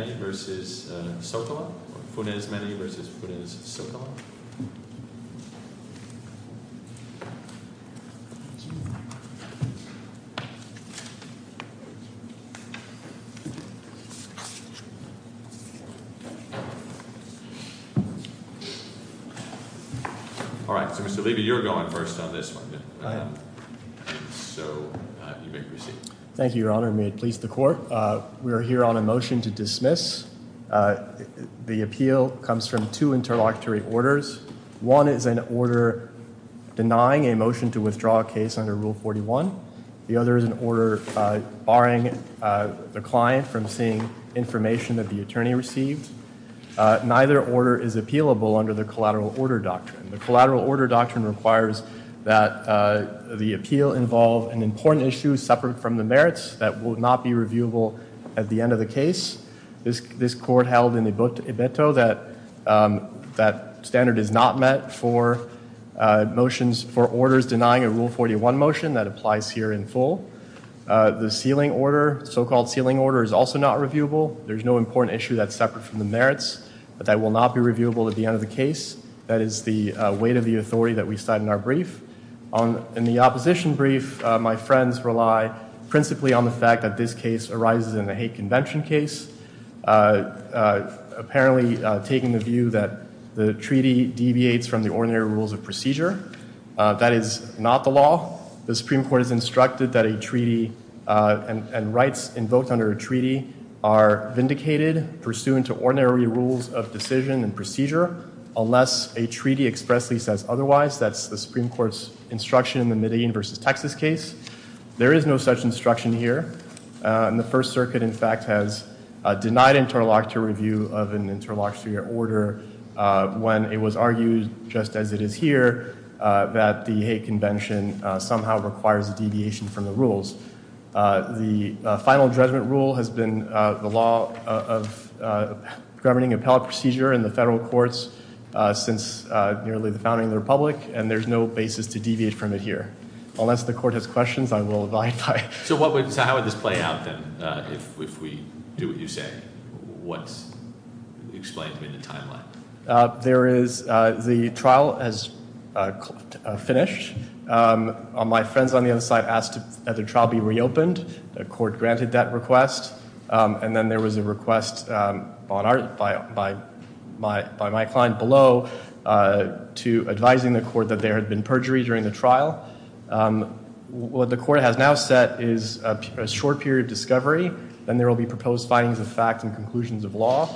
All right, so Mr. Levy, you're going first on this one, so you may proceed. Thank you, Your Honor. May it please the court. We're here on a motion to dismiss. The appeal comes from two interlocutory orders. One is an order denying a motion to withdraw a case under Rule 41. The other is an order barring the client from seeing information that the attorney received. Neither order is appealable under the collateral order doctrine. The collateral order doctrine requires that the appeal involve an important issue separate from the merits that will not be reviewable at the end of the case. This court held in Ibeto that that standard is not met for motions for orders denying a Rule 41 motion that applies here in full. The sealing order, so-called sealing order, is also not reviewable. There's no important issue that's separate from the merits that will not be reviewable at the end of the case. That is the weight of the authority that we cite in our brief. In the opposition brief, my friends rely principally on the fact that this case arises in a hate convention case, apparently taking the view that the treaty deviates from the ordinary rules of procedure. That is not the law. The Supreme Court has instructed that a treaty and rights invoked under a treaty are vindicated, pursuant to ordinary rules of decision and procedure, unless a treaty expressly says otherwise. That's the Supreme Court's instruction in the Medellin v. Texas case. There is no such instruction here. The First Circuit, in fact, has denied interlocutor review of an interlocutor order when it was argued, just as it is here, that the hate convention somehow requires a deviation from the rules. The final judgment rule has been the law of governing appellate procedure in the federal courts since nearly the founding of the Republic, and there's no basis to deviate from it here. Unless the court has questions, I will abide by it. So how would this play out, then, if we do what you say? What's explained in the timeline? The trial has finished. My friends on the other side asked that the trial be reopened. The court granted that request. And then there was a request by my client below to advising the court that there had been perjury during the trial. What the court has now set is a short period of discovery. Then there will be proposed findings of fact and conclusions of law,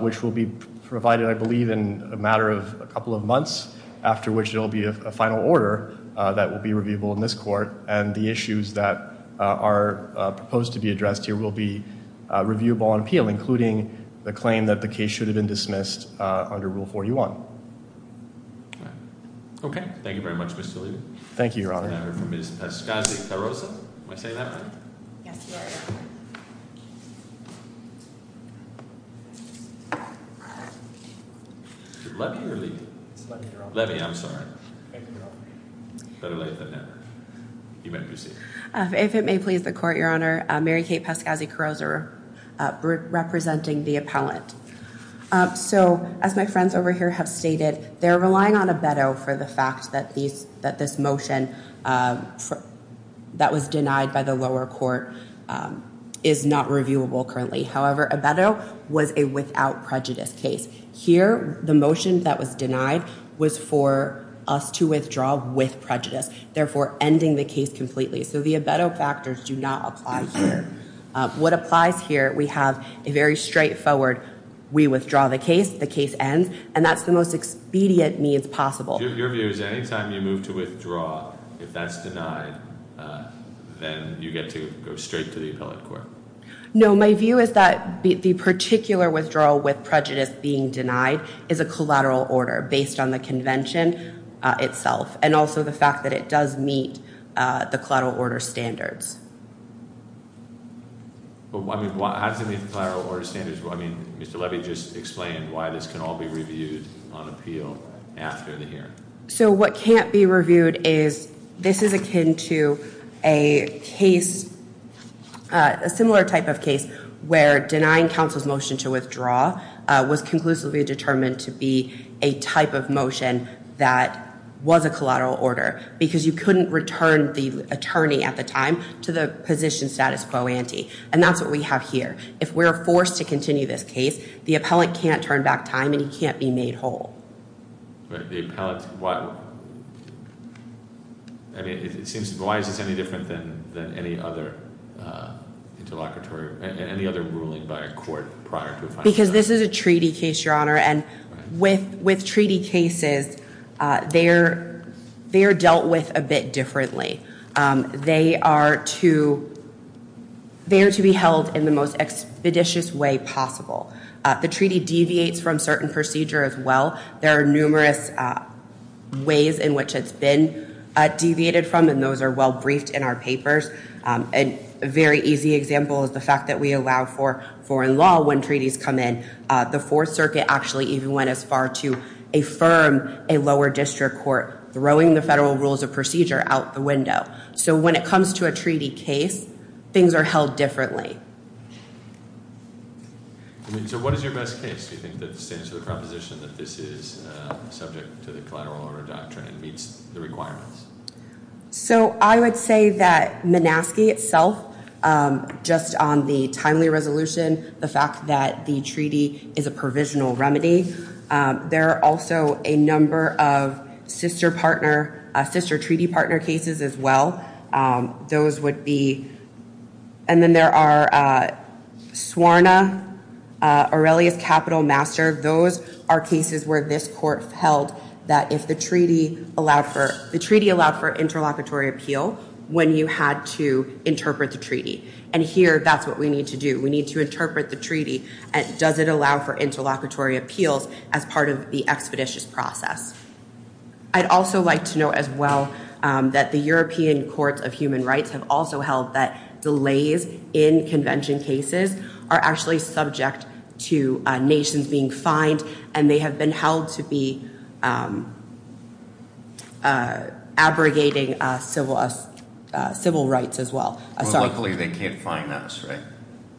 which will be provided, I believe, in a matter of a couple of months, after which there will be a final order that will be reviewable in this court. And the issues that are proposed to be addressed here will be reviewable on appeal, including the claim that the case should have been dismissed under Rule 41. All right. Okay. Thank you very much, Mr. Levy. Thank you, Your Honor. And I hear from Ms. Pascasi-Carroza. Am I saying that right? Yes, you are. Is it Levy or Levy? It's Levy, Your Honor. Levy, I'm sorry. Thank you, Your Honor. Better late than never. You may proceed. If it may please the court, Your Honor, Mary Kate Pascasi-Carroza representing the appellant. So, as my friends over here have stated, they're relying on abetto for the fact that this motion that was denied by the lower court is not reviewable currently. However, abetto was a without prejudice case. Here, the motion that was denied was for us to withdraw with prejudice, therefore ending the case completely. So the abetto factors do not apply here. What applies here, we have a very straightforward we withdraw the case, the case ends, and that's the most expedient means possible. Your view is anytime you move to withdraw, if that's denied, then you get to go straight to the appellate court? No. My view is that the particular withdrawal with prejudice being denied is a collateral order How does it meet the collateral order standards? Mr. Levy just explained why this can all be reviewed on appeal after the hearing. So what can't be reviewed is this is akin to a similar type of case where denying counsel's motion to withdraw was conclusively determined to be a type of motion that was a collateral order because you couldn't return the attorney at the time to the position status quo ante. And that's what we have here. If we're forced to continue this case, the appellate can't turn back time and he can't be made whole. Why is this any different than any other ruling by a court prior to a final judgment? With treaty cases, they're dealt with a bit differently. They are to be held in the most expeditious way possible. The treaty deviates from certain procedure as well. There are numerous ways in which it's been deviated from, and those are well briefed in our papers. A very easy example is the fact that we allow for foreign law when treaties come in. The Fourth Circuit actually even went as far to affirm a lower district court throwing the federal rules of procedure out the window. So when it comes to a treaty case, things are held differently. So what is your best case? Do you think that it stands to the proposition that this is subject to the collateral order doctrine and meets the requirements? So I would say that Minaski itself, just on the timely resolution, the fact that the treaty is a provisional remedy. There are also a number of sister treaty partner cases as well. Those would be, and then there are SWARNA, Aurelius Capital Master. Those are cases where this court held that if the treaty allowed for interlocutory appeal when you had to interpret the treaty, and here that's what we need to do. We need to interpret the treaty. Does it allow for interlocutory appeals as part of the expeditious process? I'd also like to note as well that the European Courts of Human Rights have also held that delays in convention cases are actually subject to nations being fined, and they have been held to be abrogating civil rights as well. Well, luckily they can't fine us, right?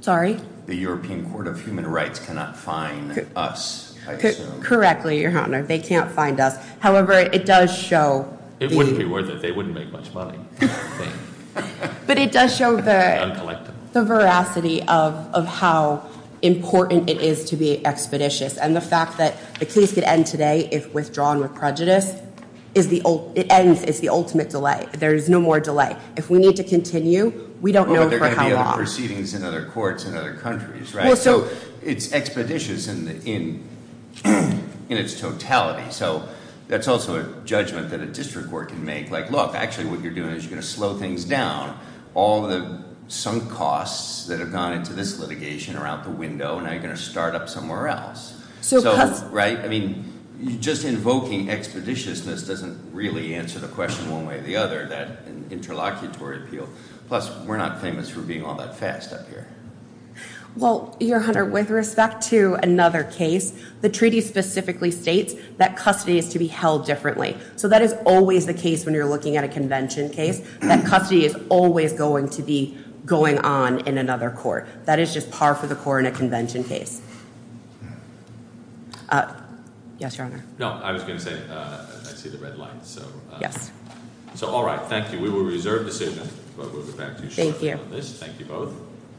Sorry? The European Court of Human Rights cannot fine us, I assume. Correctly, Your Honor. They can't fine us. However, it does show. It wouldn't be worth it. They wouldn't make much money. But it does show the veracity of how important it is to be expeditious, and the fact that the case could end today if withdrawn with prejudice. It ends. It's the ultimate delay. There is no more delay. If we need to continue, we don't know for how long. But there are going to be other proceedings in other courts in other countries, right? So it's expeditious in its totality. So that's also a judgment that a district court can make. Like, look, actually what you're doing is you're going to slow things down. All the sunk costs that have gone into this litigation are out the window, and now you're going to start up somewhere else, right? I mean, just invoking expeditiousness doesn't really answer the question one way or the other, that interlocutory appeal. Plus, we're not famous for being all that fast up here. Well, Your Honor, with respect to another case, the treaty specifically states that custody is to be held differently. So that is always the case when you're looking at a convention case, that custody is always going to be going on in another court. That is just par for the course in a convention case. Yes, Your Honor. No, I was going to say I see the red light. Yes. So all right, thank you. We will reserve decision, but we'll get back to you shortly on this. Thank you. Thank you both.